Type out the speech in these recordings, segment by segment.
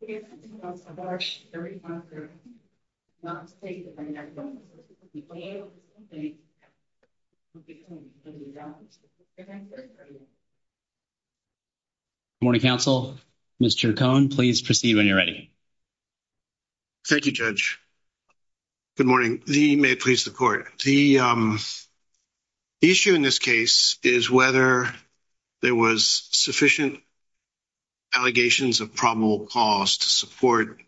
Good morning, counsel. Mr. Cohn, please proceed when you're ready. Thank you, Judge. Good morning. The issue in this case is whether there was sufficient allegations of probable cause to support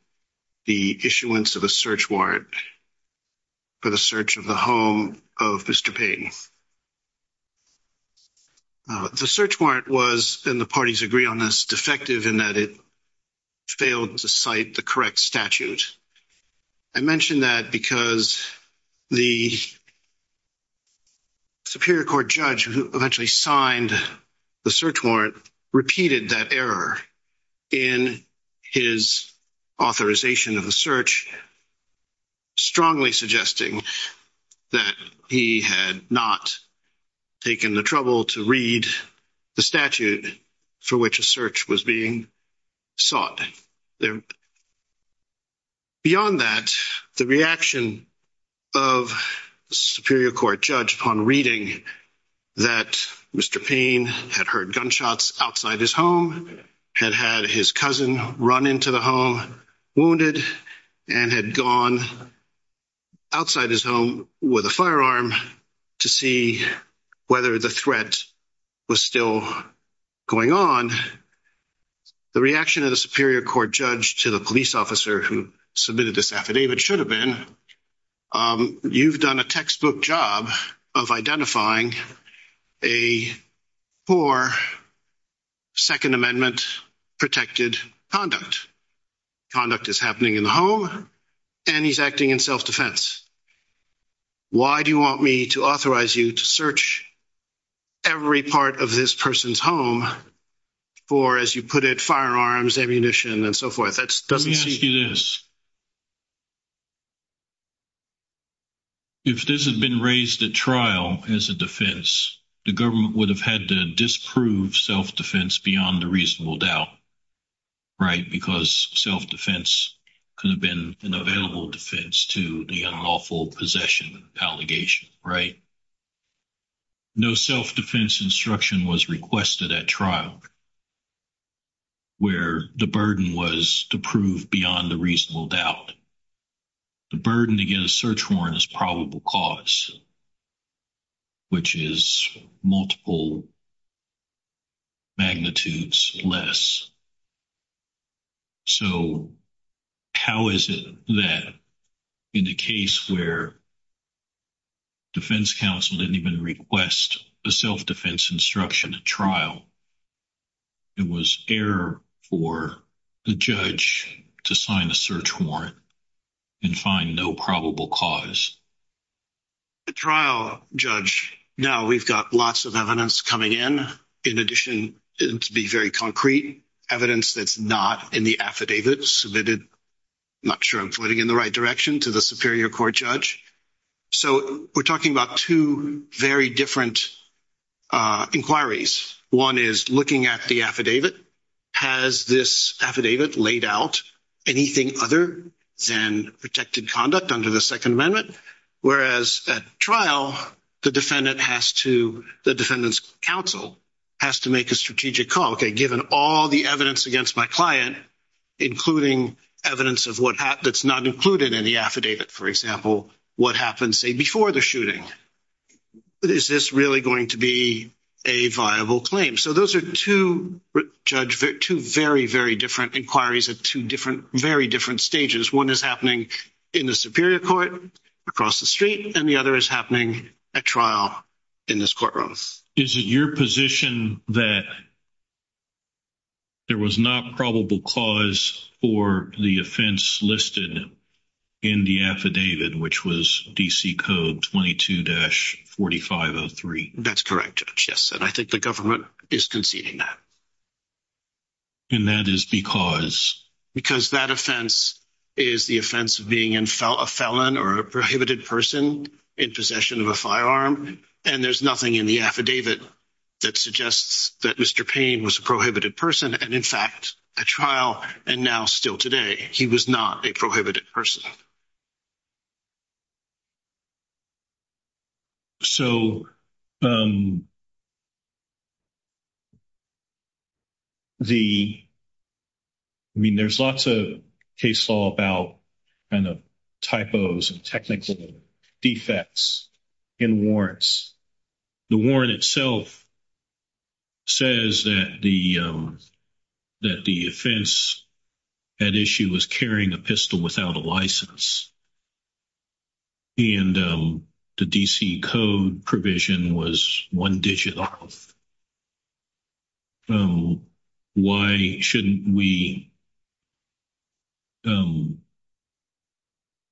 the issuance of a search warrant for the search of the home of Mr. Payne. The search warrant was, and the parties agree on this, defective in that it failed to cite the correct statute. I mention that because the Superior Court judge who eventually signed the search warrant repeated that error in his authorization of the search, strongly suggesting that he had not taken the trouble to read the statute for which a search was being sought. Beyond that, the reaction of the Superior Court judge upon reading that Mr. Payne had heard gunshots outside his home, had had his cousin run into the home wounded, and had gone outside his home with a firearm to see whether the threat was still going on, the reaction of the Superior Court judge to the police officer who submitted this affidavit should have been, you've done a textbook job of identifying a poor Second Amendment protected conduct. Conduct is happening in the home, and he's acting in self-defense. Why do you want me to authorize you to search every part of this person's home for, as you put it, firearms, ammunition, and so forth? Let me ask you this. If this had been raised at trial as a defense, the government would have had to disprove self-defense beyond a reasonable doubt, right? Because self-defense could have been an available defense to the unlawful possession allegation, right? No self-defense instruction was requested at trial where the burden was to prove beyond a reasonable doubt. The burden to get a search warrant is probable cause, which is multiple magnitudes less. So how is it that in a case where defense counsel didn't even request a self-defense instruction at trial, it was fair for the judge to sign a search warrant and find no probable cause? At trial, Judge, now we've got lots of evidence coming in. In addition, to be very concrete, evidence that's not in the affidavit submitted, I'm not sure I'm pointing in the right direction, to the Superior Court judge. So we're talking about two very different inquiries. One is looking at the affidavit. Has this affidavit laid out anything other than protected conduct under the Second Amendment? Whereas at trial, the defendant has to, the defendant's counsel has to make a strategic call. Okay, given all the evidence against my client, including evidence of what, that's not included in the affidavit, for example, what happened say before the shooting, is this really going to be a viable claim? So those are two, Judge, two very, very different inquiries at two different, very different stages. One is happening in the Superior Court across the street, and the other is happening at trial in this courtroom. Is it your position that there was not probable cause for the offense listed in the affidavit, which was DC Code 22-4503? That's correct, Judge, yes, and I think the government is conceding that. And that is because? Because that offense is the offense of being a felon or a prohibited person in possession of a firearm, and there's nothing in the affidavit that suggests that Mr. Payne was a prohibited person, and in fact, at trial, and now still today, he was not a prohibited person. So the, I mean, there's lots of case law about kind of typos and technical defects in warrants. The warrant itself says that the, that the offense at issue was carrying a pistol without a license, and the DC Code provision was one digit off. So why shouldn't we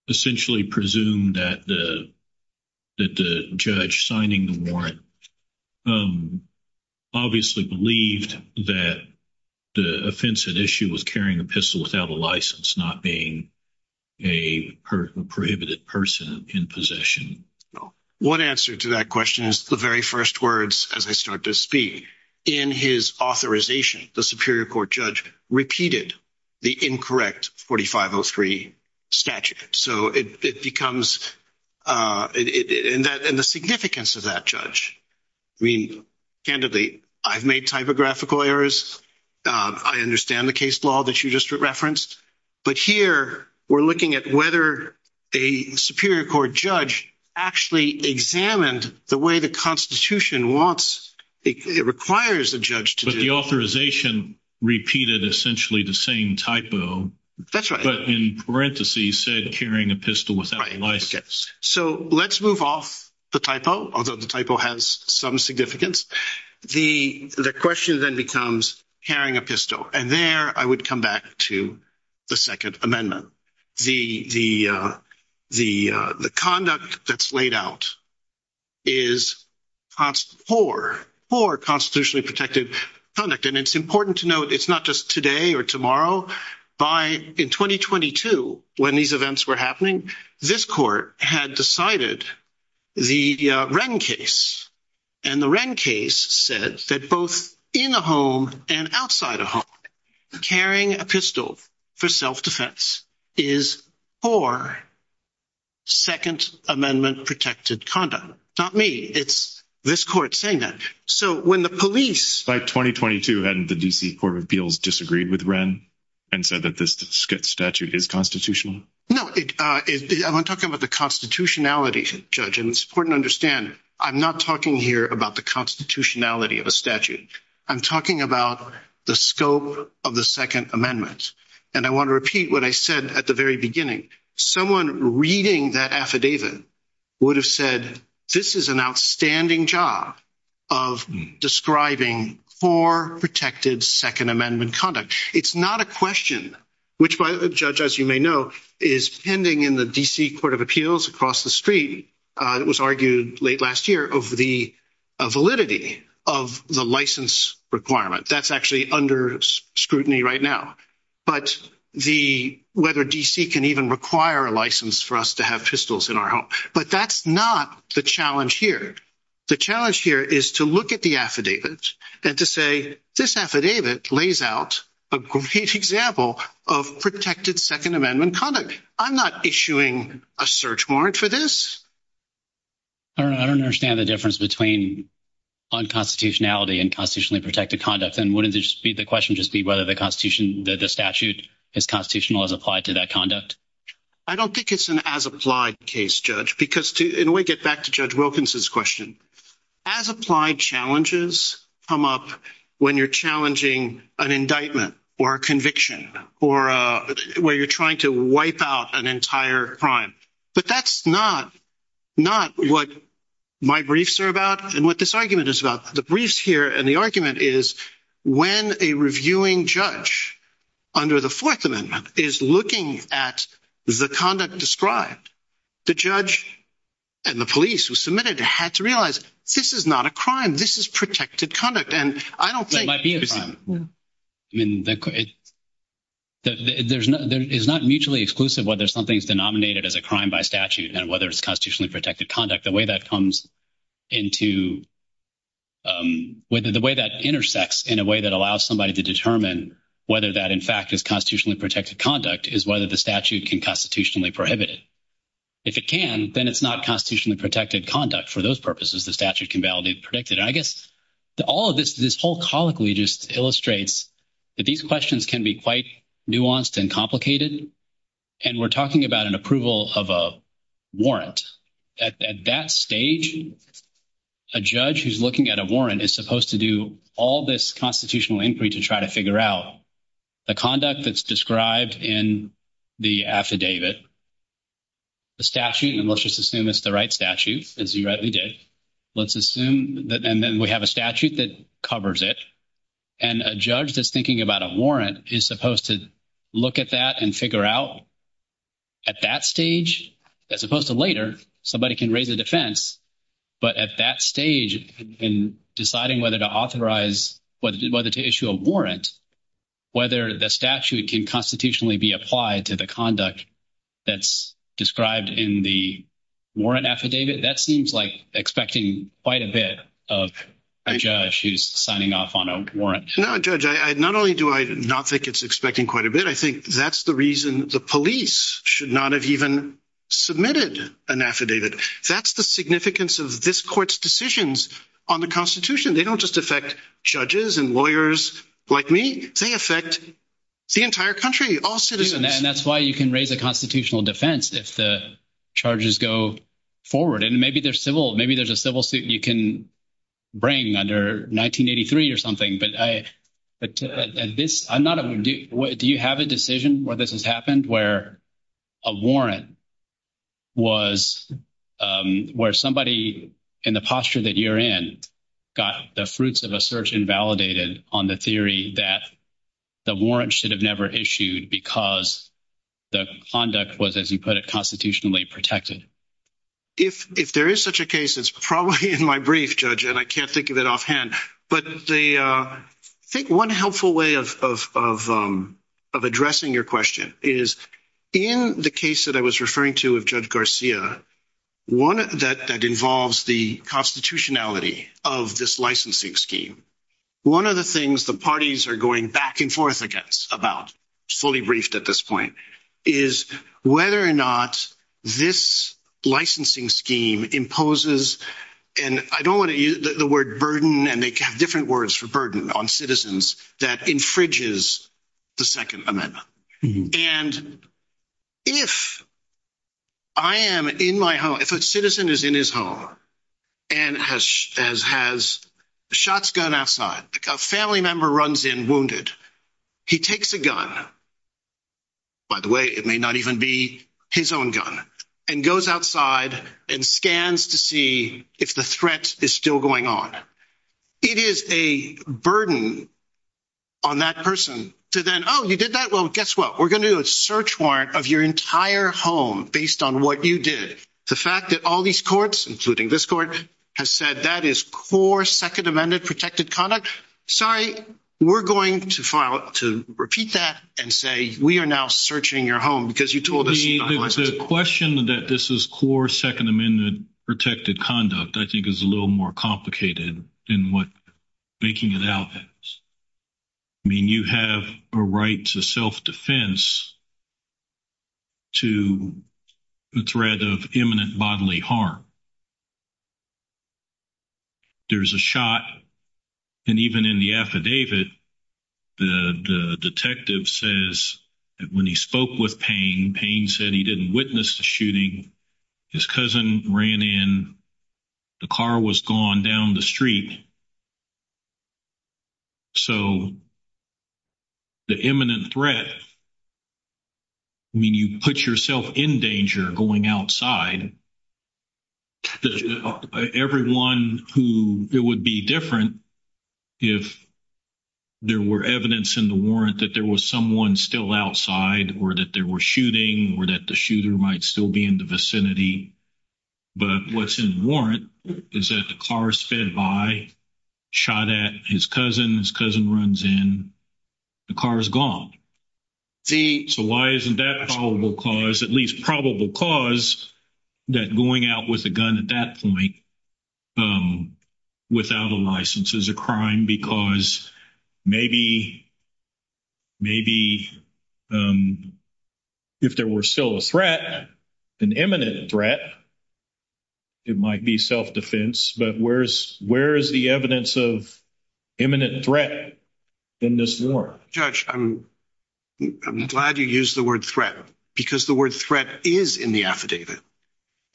essentially presume that the, that the judge signing the affidavit obviously believed that the offense at issue was carrying a pistol without a license, not being a prohibited person in possession? One answer to that question is the very first words as I start to speak. In his authorization, the Superior Court judge repeated the incorrect 4503 statute. So it becomes, and the significance of that judge, I mean, candidly, I've made typographical errors. I understand the case law that you just referenced, but here we're looking at whether a Superior Court judge actually examined the way the Constitution wants, it requires a judge to do. But the authorization repeated essentially the same typo. That's right. But in parentheses said carrying a pistol without a license. So let's move off the typo, although the typo has some significance. The question then becomes carrying a pistol, and there I would come back to the Second Amendment. The conduct that's laid out is poor, poor constitutionally protected conduct. And it's important to note, it's not just today or tomorrow. By in 2022, when these events were happening, this court had decided the Wren case. And the Wren case said that both in a home and outside a home, carrying a pistol for self-defense is poor Second Amendment protected conduct. Not me, it's this court saying that. So when the police... By 2022, hadn't the D.C. Court of Appeals disagreed with Wren and said that this statute is constitutional? No, I'm talking about the constitutionality, Judge, and it's important to understand, I'm not talking here about the constitutionality of a statute. I'm talking about the scope of the Second Amendment. And I want to repeat what I said at the very beginning. Someone reading that affidavit would have said this is an outstanding job of describing poor, protected Second Amendment conduct. It's not a question, which by the way, Judge, as you may know, is pending in the D.C. Court of Appeals across the street. It was argued late last year of the validity of the license requirement. That's actually under scrutiny right now. But whether D.C. can even require a license for us to have pistols in our home. But that's not the challenge here. The challenge here is to look at the affidavit and to say this affidavit lays out a great example of protected Second Amendment conduct. I'm not issuing a search warrant for this. I don't understand the difference between unconstitutionality and constitutionally protected conduct. And wouldn't the question just be whether the statute is constitutional as applied to that conduct? I don't think it's an as-applied case, Judge, because to in a way get back to Judge Wilkinson's question, as-applied challenges come up when you're challenging an indictment or a conviction or where you're trying to wipe out an entire crime. But that's not what my briefs are about and what this argument is about. The briefs here and the argument is when a reviewing judge under the Fourth Amendment is looking at the conduct described, the judge and the police who submitted it had to realize this is not a crime. This is protected conduct. And I don't think it's a crime. It might be a crime. I mean, it's not mutually exclusive whether something is denominated as a crime by statute and whether it's constitutionally protected conduct. The way that intersects in a way that allows somebody to determine whether that in fact is constitutionally protected conduct is whether the statute can constitutionally prohibit it. If it can, then it's not constitutionally protected conduct. For those purposes, the statute can validate and predict it. And I guess all of this, this whole colloquy just illustrates that these questions can be quite nuanced and complicated. And we're talking about an approval of a warrant. At that stage, a judge who's looking at a warrant is supposed to do all this constitutional inquiry to try to figure out the conduct that's described in the affidavit, the statute, and let's just assume it's the right statute, as you rightly did. Let's assume that, and then we have a statute that covers it. And a judge that's thinking about a warrant is supposed to look at that and figure out at that stage, as opposed to later, somebody can raise a defense. But at that stage in deciding whether to authorize, whether to issue a warrant, whether the statute can constitutionally be applied to the conduct that's described in the warrant affidavit, that seems like expecting quite a bit of a judge who's signing off on a warrant. No, Judge. Not only do I not think it's expecting quite a bit, I think that's the reason the police should not have even submitted an affidavit. That's the significance of this court's decisions on the Constitution. They don't just affect judges and lawyers like me. They affect the entire country, all citizens. And that's why you can raise a constitutional defense if the charges go forward. And maybe there's a civil suit you can bring under 1983 or something. But do you have a decision where this has happened, where a warrant was, where somebody in the posture that you're in, got the fruits of a search invalidated on the theory that the warrant should have never issued because the conduct was, as you put it, constitutionally protected? If there is such a case, it's probably in my brief, Judge, and I can't think of it offhand. But I think one helpful way of addressing your question is, in the case that I was referring to with Judge Garcia, one that involves the constitutionality of this licensing scheme, one of the things the parties are going back and forth against about, fully briefed at this point, is whether or not this licensing scheme imposes, and I don't want to use the word burden, and they have different words for burden on citizens, that infringes the Second Amendment. And if I am in my home, if a citizen is in his home and has shots gunned outside, a family member runs in wounded, he takes a gun, by the way, it may not even be his own gun, and goes outside and scans to see if the threat is still going on. It is a burden on that person to then, oh, you did that? Well, guess what? We're going to do a search warrant of your entire home based on what you did. The fact that all these courts, including this court, have said that is core Second Amendment protected conduct. Sorry, we're going to repeat that and say we are now searching your home because you told us you're not licensed. The question that this is core Second Amendment protected conduct, I think, is a little more complicated than what making it out is. I mean, you have a right to self-defense to the threat of imminent bodily harm. There's a shot, and even in the affidavit, the detective says that when he spoke with Payne, Payne said he didn't witness the shooting. His cousin ran in. The car was gone down the street. So, the imminent threat, I mean, you put yourself in danger going outside. Everyone who, it would be different if there were evidence in the warrant that there was someone still outside or that there was shooting or that the shooter might still be in the vicinity. But what's in the warrant is that the car is fed by, shot at his cousin, his cousin runs in, the car is gone. So, why isn't that probable cause, at least probable cause, that going out with a gun at that point without a license is a crime? Because maybe if there were still a threat, an imminent threat, it might be self-defense. But where's, where is the evidence of imminent threat in this warrant? Judge, I'm glad you used the word threat because the word threat is in the affidavit.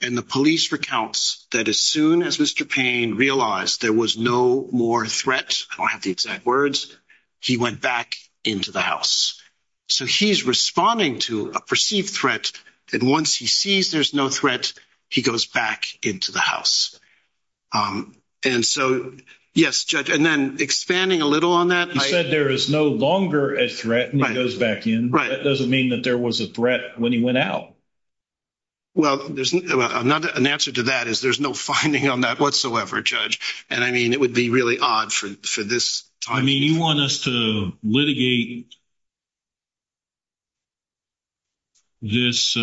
And the police recounts that as soon as Mr. Payne realized there was no more threat, I don't have the exact words, he went back into the house. So, he's responding to a perceived threat. And once he sees there's no threat, he goes back into the house. And so, yes, Judge, and then expanding a little on that. You said there is no longer a threat when he goes back in. That doesn't mean that there was a threat when he went out. Well, there's not an answer to that is there's no finding on that whatsoever, Judge. And I mean, it would be really odd for this time. I mean, you want us to litigate this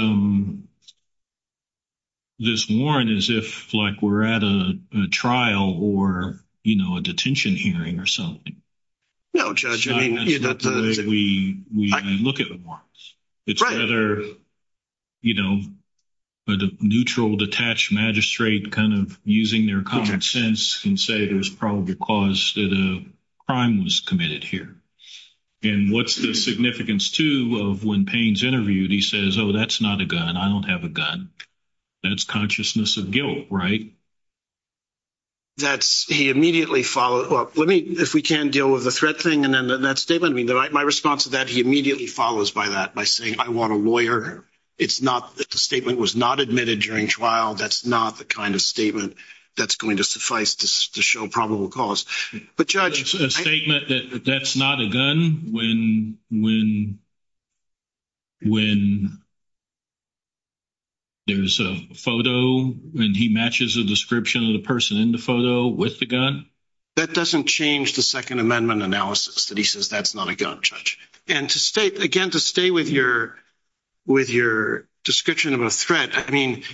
warrant as if, like, we're at a trial or, you know, a detention hearing or something? No, Judge, I mean, you're not. We look at warrants. It's rather, you know, a neutral, detached magistrate kind of using their common sense and say there's probably a cause that a crime was committed here. And what's the significance, too, of when Payne's interviewed, he says, oh, that's not a gun. I don't have a gun. That's consciousness of guilt, right? That's he immediately followed up. Let me if we can deal with the threat thing and then that statement. I mean, my response to that, he immediately follows by that by saying, I want a it's not that the statement was not admitted during trial. That's not the kind of statement that's going to suffice to show probable cause. But, Judge, it's a statement that that's not a gun when there's a photo and he matches a description of the person in the photo with the gun. That doesn't change the Second Amendment analysis that he says that's not a gun, Judge. And to state again, to stay with your with your description of a threat. I mean,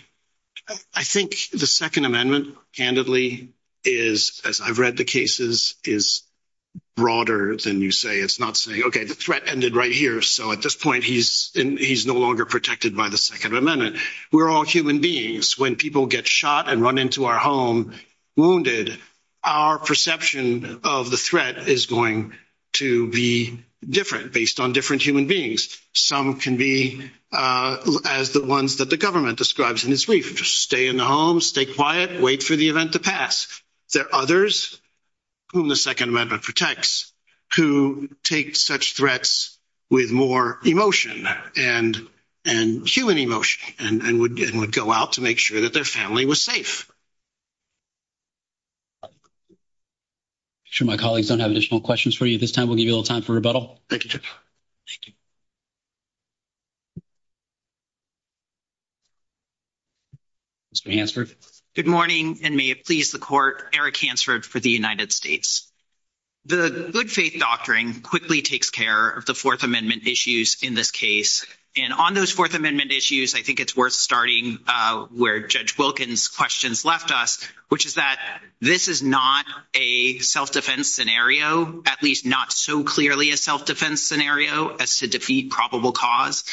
I think the Second Amendment, candidly, is, as I've read the cases, is broader than you say. It's not saying, OK, the threat ended right here. So at this point, he's he's no longer protected by the Second Amendment. We're all human beings when people get shot and run into our home wounded. Our perception of the threat is going to be different based on different human beings. Some can be as the ones that the government describes in its brief, stay in the home, stay quiet, wait for the event to pass. There are others whom the Second Amendment protects who take such threats with more emotion and and human emotion and would go out to make sure that their family was safe. Sure, my colleagues don't have additional questions for you this time, we'll give you a little time for rebuttal. Thank you. Mr. Hansford. Good morning and may it please the court. Eric Hansford for the United States. The Good Faith Doctrine quickly takes care of the Fourth Amendment issues in this case. And on those Fourth Amendment issues, I think it's worth starting where Judge Wilkins questions left us, which is that this is not a self-defense scenario, at least not so clearly a self-defense scenario as to defeat probable cause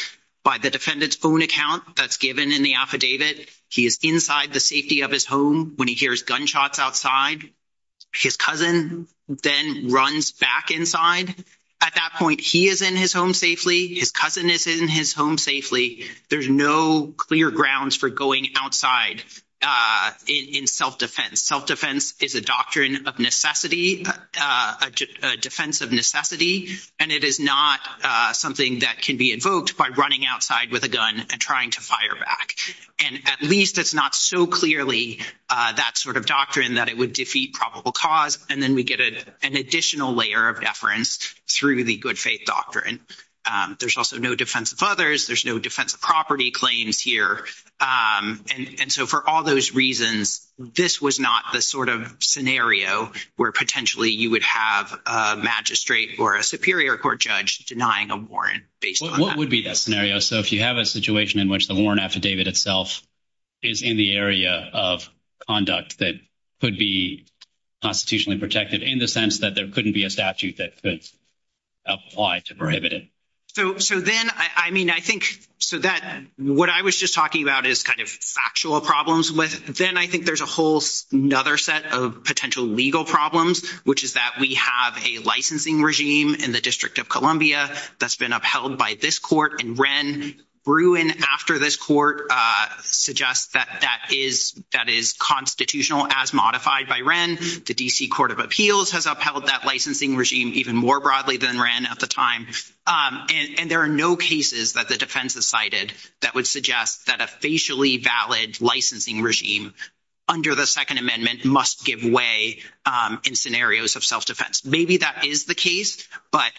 by the defendant's phone account that's given in the affidavit. He is inside the safety of his home when he hears gunshots outside. His cousin then runs back inside. At that point, he is in his home safely. His cousin is in his home safely. There's no clear grounds for going outside in self-defense. Self-defense is a doctrine of necessity, a defense of necessity, and it is not something that can be invoked by running outside with a gun and trying to fire back. And at least it's not so clearly that sort of doctrine that it would defeat probable cause. And then we get an additional layer of deference through the Good Faith Doctrine. There's also no defense of others. There's no defense of property claims here. And so for all those reasons, this was not the sort of scenario where potentially you would have a magistrate or a superior court judge denying a warrant based on that. What would be that scenario? So if you have a situation in which the warrant affidavit itself is in the area of conduct that could be constitutionally protected in the sense that there couldn't be a statute that could apply to prohibit it. So then, I mean, I think, so that what I was just talking about is kind of factual problems with, then I think there's a whole another set of potential legal problems, which is that we have a licensing regime in the District of Columbia that's been upheld by this court and Wren. Bruin, after this court, suggests that that is constitutional as modified by Wren. The D.C. Court of Appeals has upheld that licensing regime even more broadly than Wren at the time. And there are no cases that the defense has cited that would suggest that a facially valid licensing regime under the Second Amendment must give way in scenarios of self-defense. Maybe that is the case, but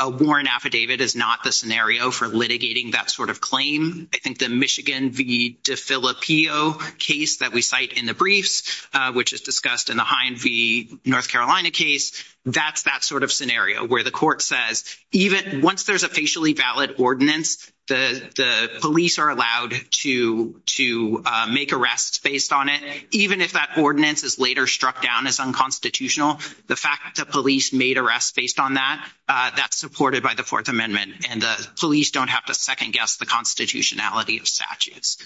a warrant affidavit is not the for litigating that sort of claim. I think the Michigan v. DeFilippo case that we cite in the briefs, which is discussed in the Hind v. North Carolina case, that's that sort of scenario where the court says even once there's a facially valid ordinance, the police are allowed to make arrests based on it, even if that ordinance is later struck down as unconstitutional. The fact that made arrests based on that, that's supported by the Fourth Amendment, and the police don't have to second-guess the constitutionality of statutes.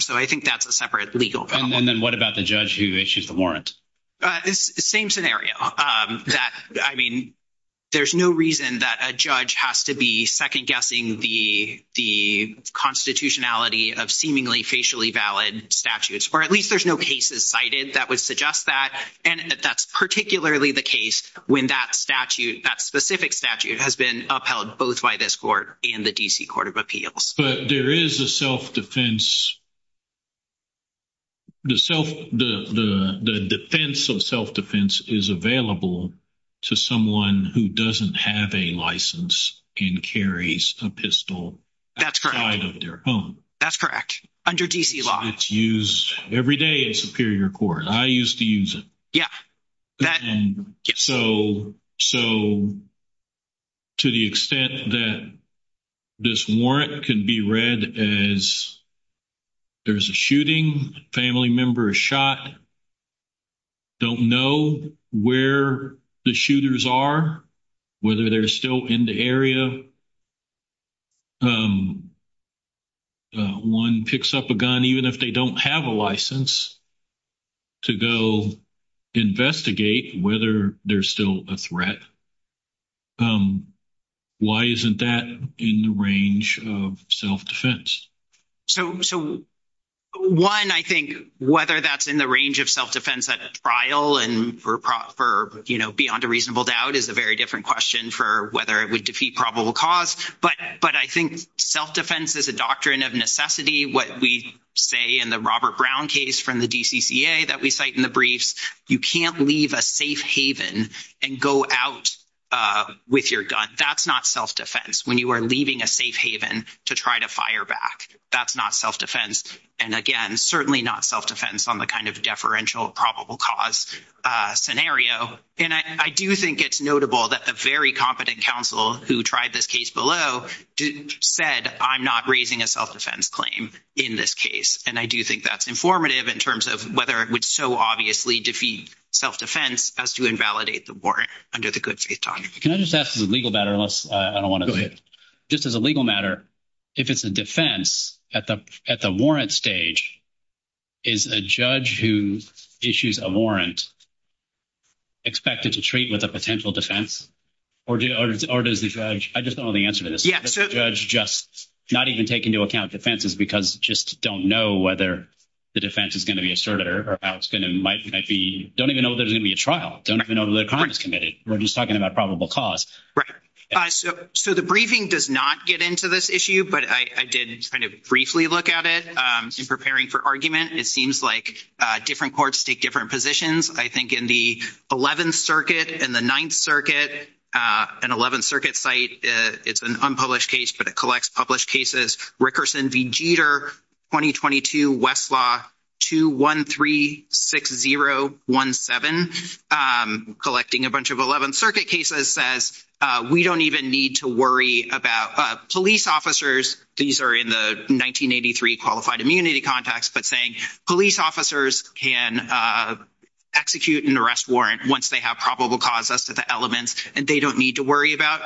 So I think that's a separate legal problem. And then what about the judge who issues the warrant? Same scenario. I mean, there's no reason that a judge has to be second-guessing the constitutionality of seemingly facially valid statutes, or at least there's no cases cited that would suggest that. And that's particularly the case when that statute, that specific statute, has been upheld both by this court and the D.C. Court of Appeals. But there is a self-defense. The defense of self-defense is available to someone who doesn't have a license and carries a pistol outside of their home. That's correct. Under D.C. law. It's used every day in Superior Court. I used to use it. Yeah. So to the extent that this warrant can be read as there's a shooting, family member is shot, don't know where the shooters are, whether they're still in the area, one picks up a gun even if they don't have a license to go investigate whether there's still a threat, why isn't that in the range of self-defense? So one, I think, whether that's in the range of self-defense at trial and for, you know, beyond a reasonable doubt is a very different question for whether it would defeat probable cause. But I think self-defense is a doctrine of necessity. What we say in the Robert Brown case from the D.C.C.A. that we cite in the briefs, you can't leave a safe haven and go out with your gun. That's not self-defense. When you are leaving a safe haven to try to fire back, that's not self-defense. And again, certainly not self-defense on the kind of deferential probable cause scenario. And I do think it's notable that the very competent counsel who tried this case below said, I'm not raising a self-defense claim in this case. And I do think that's informative in terms of whether it would so obviously defeat self-defense as to invalidate the warrant under the good faith doctrine. Can I just ask as a legal matter, unless I don't want to... Go ahead. Just as a legal matter, if it's a defense, at the warrant stage, is a judge who issues a warrant expected to treat with a potential defense? Or does the judge... I just don't know the answer to this. Does the judge just not even take into account defenses because just don't know whether the defense is going to be asserted or how it's going to might be... Don't even know there's going to be a trial. Don't even know the crime is committed. We're just talking about probable cause. Right. So the briefing does not get into this issue, but I did kind of briefly look at it preparing for argument. It seems like different courts take different positions. I think in the 11th Circuit and the 9th Circuit, an 11th Circuit site, it's an unpublished case, but it collects published cases. Rickerson v. Jeter, 2022, Westlaw 2136017, collecting a bunch of 11th Circuit cases says, we don't even need to worry about police officers. These are in the 1983 qualified immunity context, but saying police officers can execute an arrest warrant once they have probable cause as to the elements, and they don't need to worry about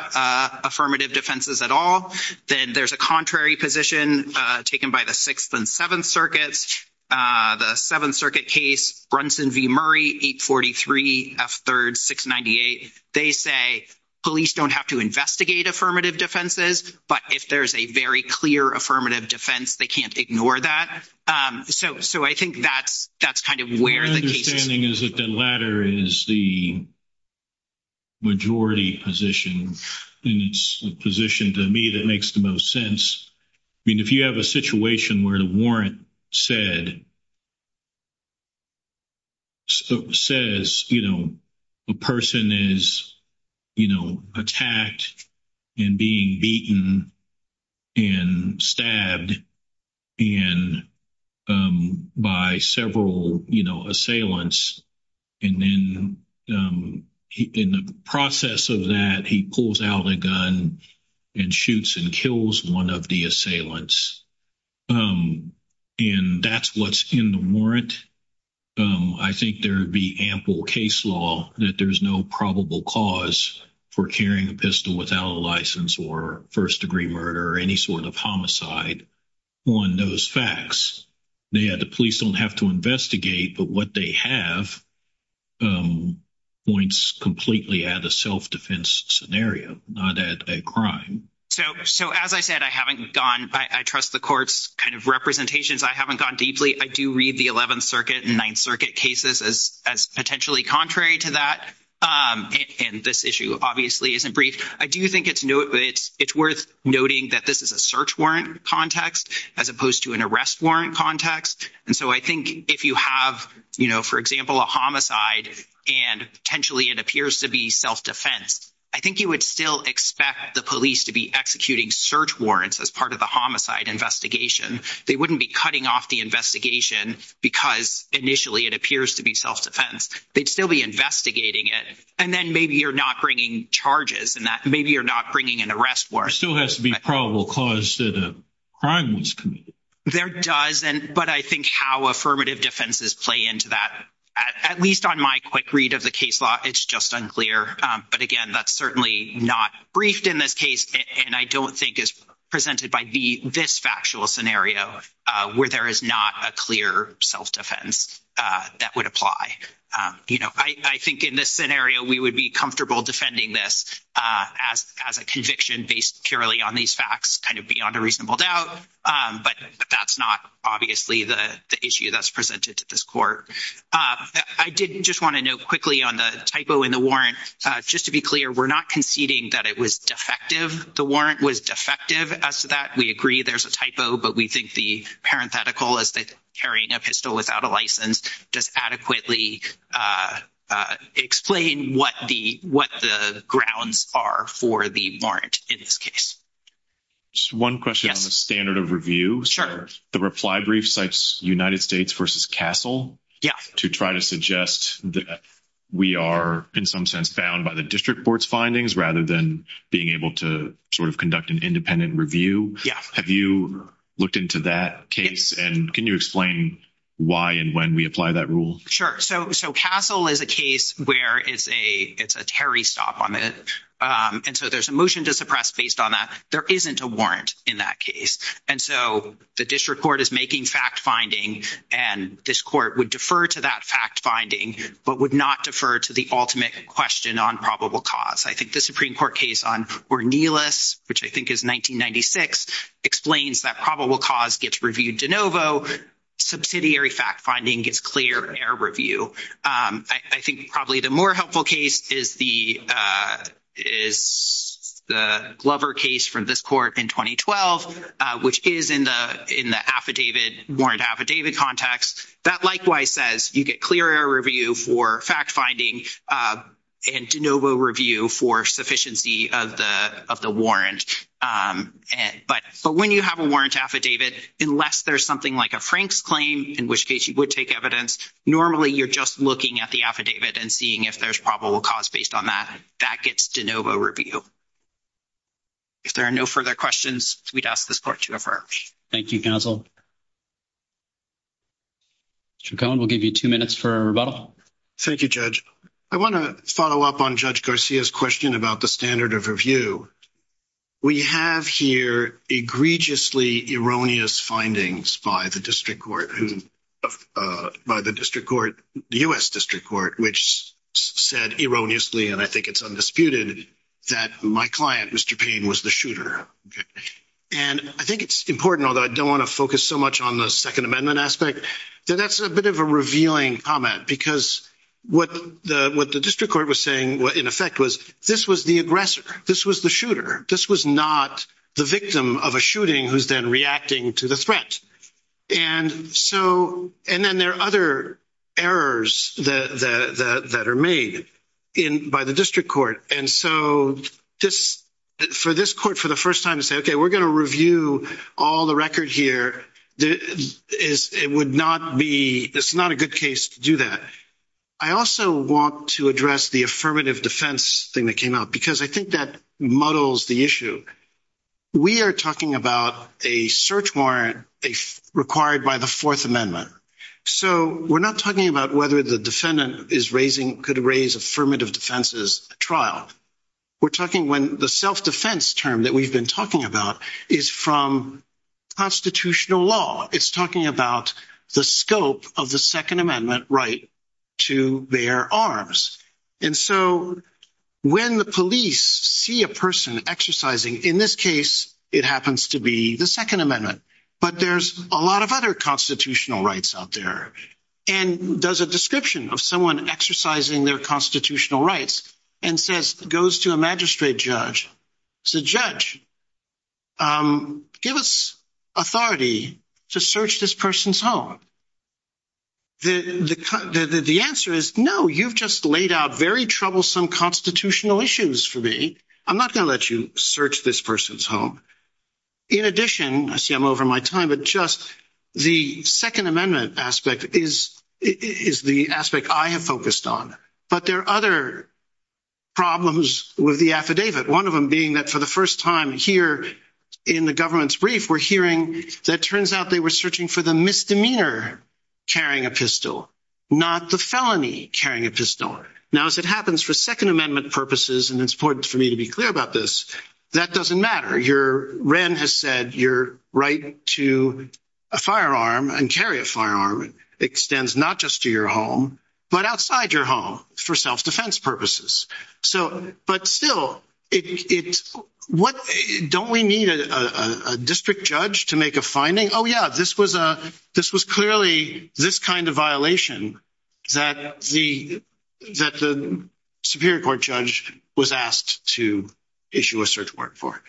affirmative defenses at all. Then there's a contrary position taken by the 6th and 7th Circuits. The 7th Circuit case, Brunson v. Murray, 843 F. 3rd 698. They say police don't have to investigate affirmative defenses, but if there's a very clear affirmative defense, they can't ignore that. So I think that's kind of where the case is. My understanding is that the latter is the majority position, and it's a position, to me, that makes the most sense. I mean, if you have a situation where the warrant says a person is attacked and being beaten and stabbed by several assailants, and then in the process of that, he pulls out a gun and shoots and kills one of the assailants, and that's what's in the warrant, I think there would be ample case law that there's no probable cause for carrying a pistol without a license or first-degree murder or any sort of homicide on those facts. Yeah, the police don't have to investigate, but what they have points completely at a self-defense scenario, not at a crime. So as I said, I haven't gone, I trust the court's kind of representations. I haven't gone deeply. I do read the 11th Circuit and 9th Circuit cases as potentially contrary to that, and this issue obviously isn't brief. I do think it's worth noting that this is a search warrant context as opposed to an arrest warrant context, and so I think if you have, you know, for example, a homicide and potentially it appears to be self-defense, I think you would still expect the police to be executing search warrants as part of the homicide investigation. They wouldn't be cutting off the investigation because initially it appears to be self-defense. They'd still be investigating it, and then maybe you're not bringing charges, and that maybe you're not bringing an arrest warrant. There still has to be probable cause that a crime was committed. There does, but I think how affirmative defenses play into that, at least on my quick read of the it's just unclear, but again, that's certainly not briefed in this case, and I don't think is presented by this factual scenario where there is not a clear self-defense that would apply. You know, I think in this scenario, we would be comfortable defending this as a conviction based purely on these facts, kind of beyond a reasonable doubt, but that's not obviously the issue that's presented to this court. I did just want to note quickly on the typo in the warrant. Just to be clear, we're not conceding that it was defective. The warrant was defective as to that. We agree there's a typo, but we think the parenthetical is that carrying a pistol without a license does adequately explain what the grounds are for the warrant in this case. One question on the standard of review. The reply brief cites United States versus Castle to try to suggest that we are in some sense bound by the district board's findings rather than being able to sort of conduct an independent review. Have you looked into that case and can you explain why and when we apply that rule? Sure. So Castle is a case where it's a stop on it, and so there's a motion to suppress based on that. There isn't a warrant in that case, and so the district court is making fact-finding, and this court would defer to that fact-finding but would not defer to the ultimate question on probable cause. I think the Supreme Court case on Ornelas, which I think is 1996, explains that probable cause gets reviewed de novo. Subsidiary fact-finding gets clear air review. I think probably the more helpful case is the is the Glover case from this court in 2012, which is in the affidavit, warrant affidavit context. That likewise says you get clear air review for fact-finding and de novo review for sufficiency of the warrant. But when you have a warrant affidavit, unless there's something like a Frank's claim, in which case you would take evidence, normally you're just looking at the that gets de novo review. If there are no further questions, we'd ask this court to defer. Thank you, Castle. Judge McCohen, we'll give you two minutes for a rebuttal. Thank you, Judge. I want to follow up on Judge Garcia's question about the standard of review. We have here egregiously erroneous findings by the district court, by the district court, the U.S. district court, which said erroneously, and I think it's undisputed, that my client, Mr. Payne, was the shooter. And I think it's important, although I don't want to focus so much on the Second Amendment aspect, that that's a bit of a revealing comment because what the district court was saying, in effect, was this was the aggressor. This was the shooter. This was not the victim of a shooting who's then reacting to the threat. And then there are other errors that are made by the district court. And so, for this court, for the first time, to say, okay, we're going to review all the record here, it would not be, it's not a good case to do that. I also want to address the affirmative defense thing that came up because I think that muddles the issue. We are talking about a search warrant required by the Fourth Amendment. So, we're not talking about whether the defendant is raising, could raise affirmative defenses at trial. We're talking when the self-defense term that we've been talking about is from constitutional law. It's talking about the scope of the Second Amendment right to bear arms. And so, when the police see a person exercising, in this case, it happens to be the Second Amendment, but there's a lot of other constitutional rights out there. And does a description of someone exercising their constitutional rights and says, goes to a magistrate judge, says, judge, give us authority to search this person's home. The answer is, no, you've just laid out very troublesome constitutional issues for me. I'm not going to let you search this person's home. In addition, I see I'm over my time, but just the Second Amendment aspect is the aspect I have focused on. But there are other problems with the affidavit. One of them being that for the first time here in the government's brief, we're hearing that turns out they were searching for the misdemeanor carrying a pistol, not the felony carrying a pistol. Now, as it happens for Second Amendment purposes, and it's important for me to be clear about this, that doesn't matter. Wren has said your right to a firearm and carry a firearm extends not just to your home, but outside your home for self-defense purposes. But still, don't we need a district judge to make a finding? Oh, yeah, this was clearly this kind of violation that the Superior Court judge was asked to issue a search warrant for.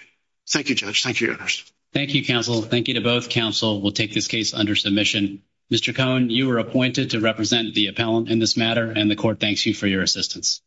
Thank you, judge. Thank you, your honors. Thank you, counsel. Thank you to both counsel. We'll take this case under submission. Mr. Cohn, you were appointed to represent the appellant in this matter, and the court thanks you for your assistance.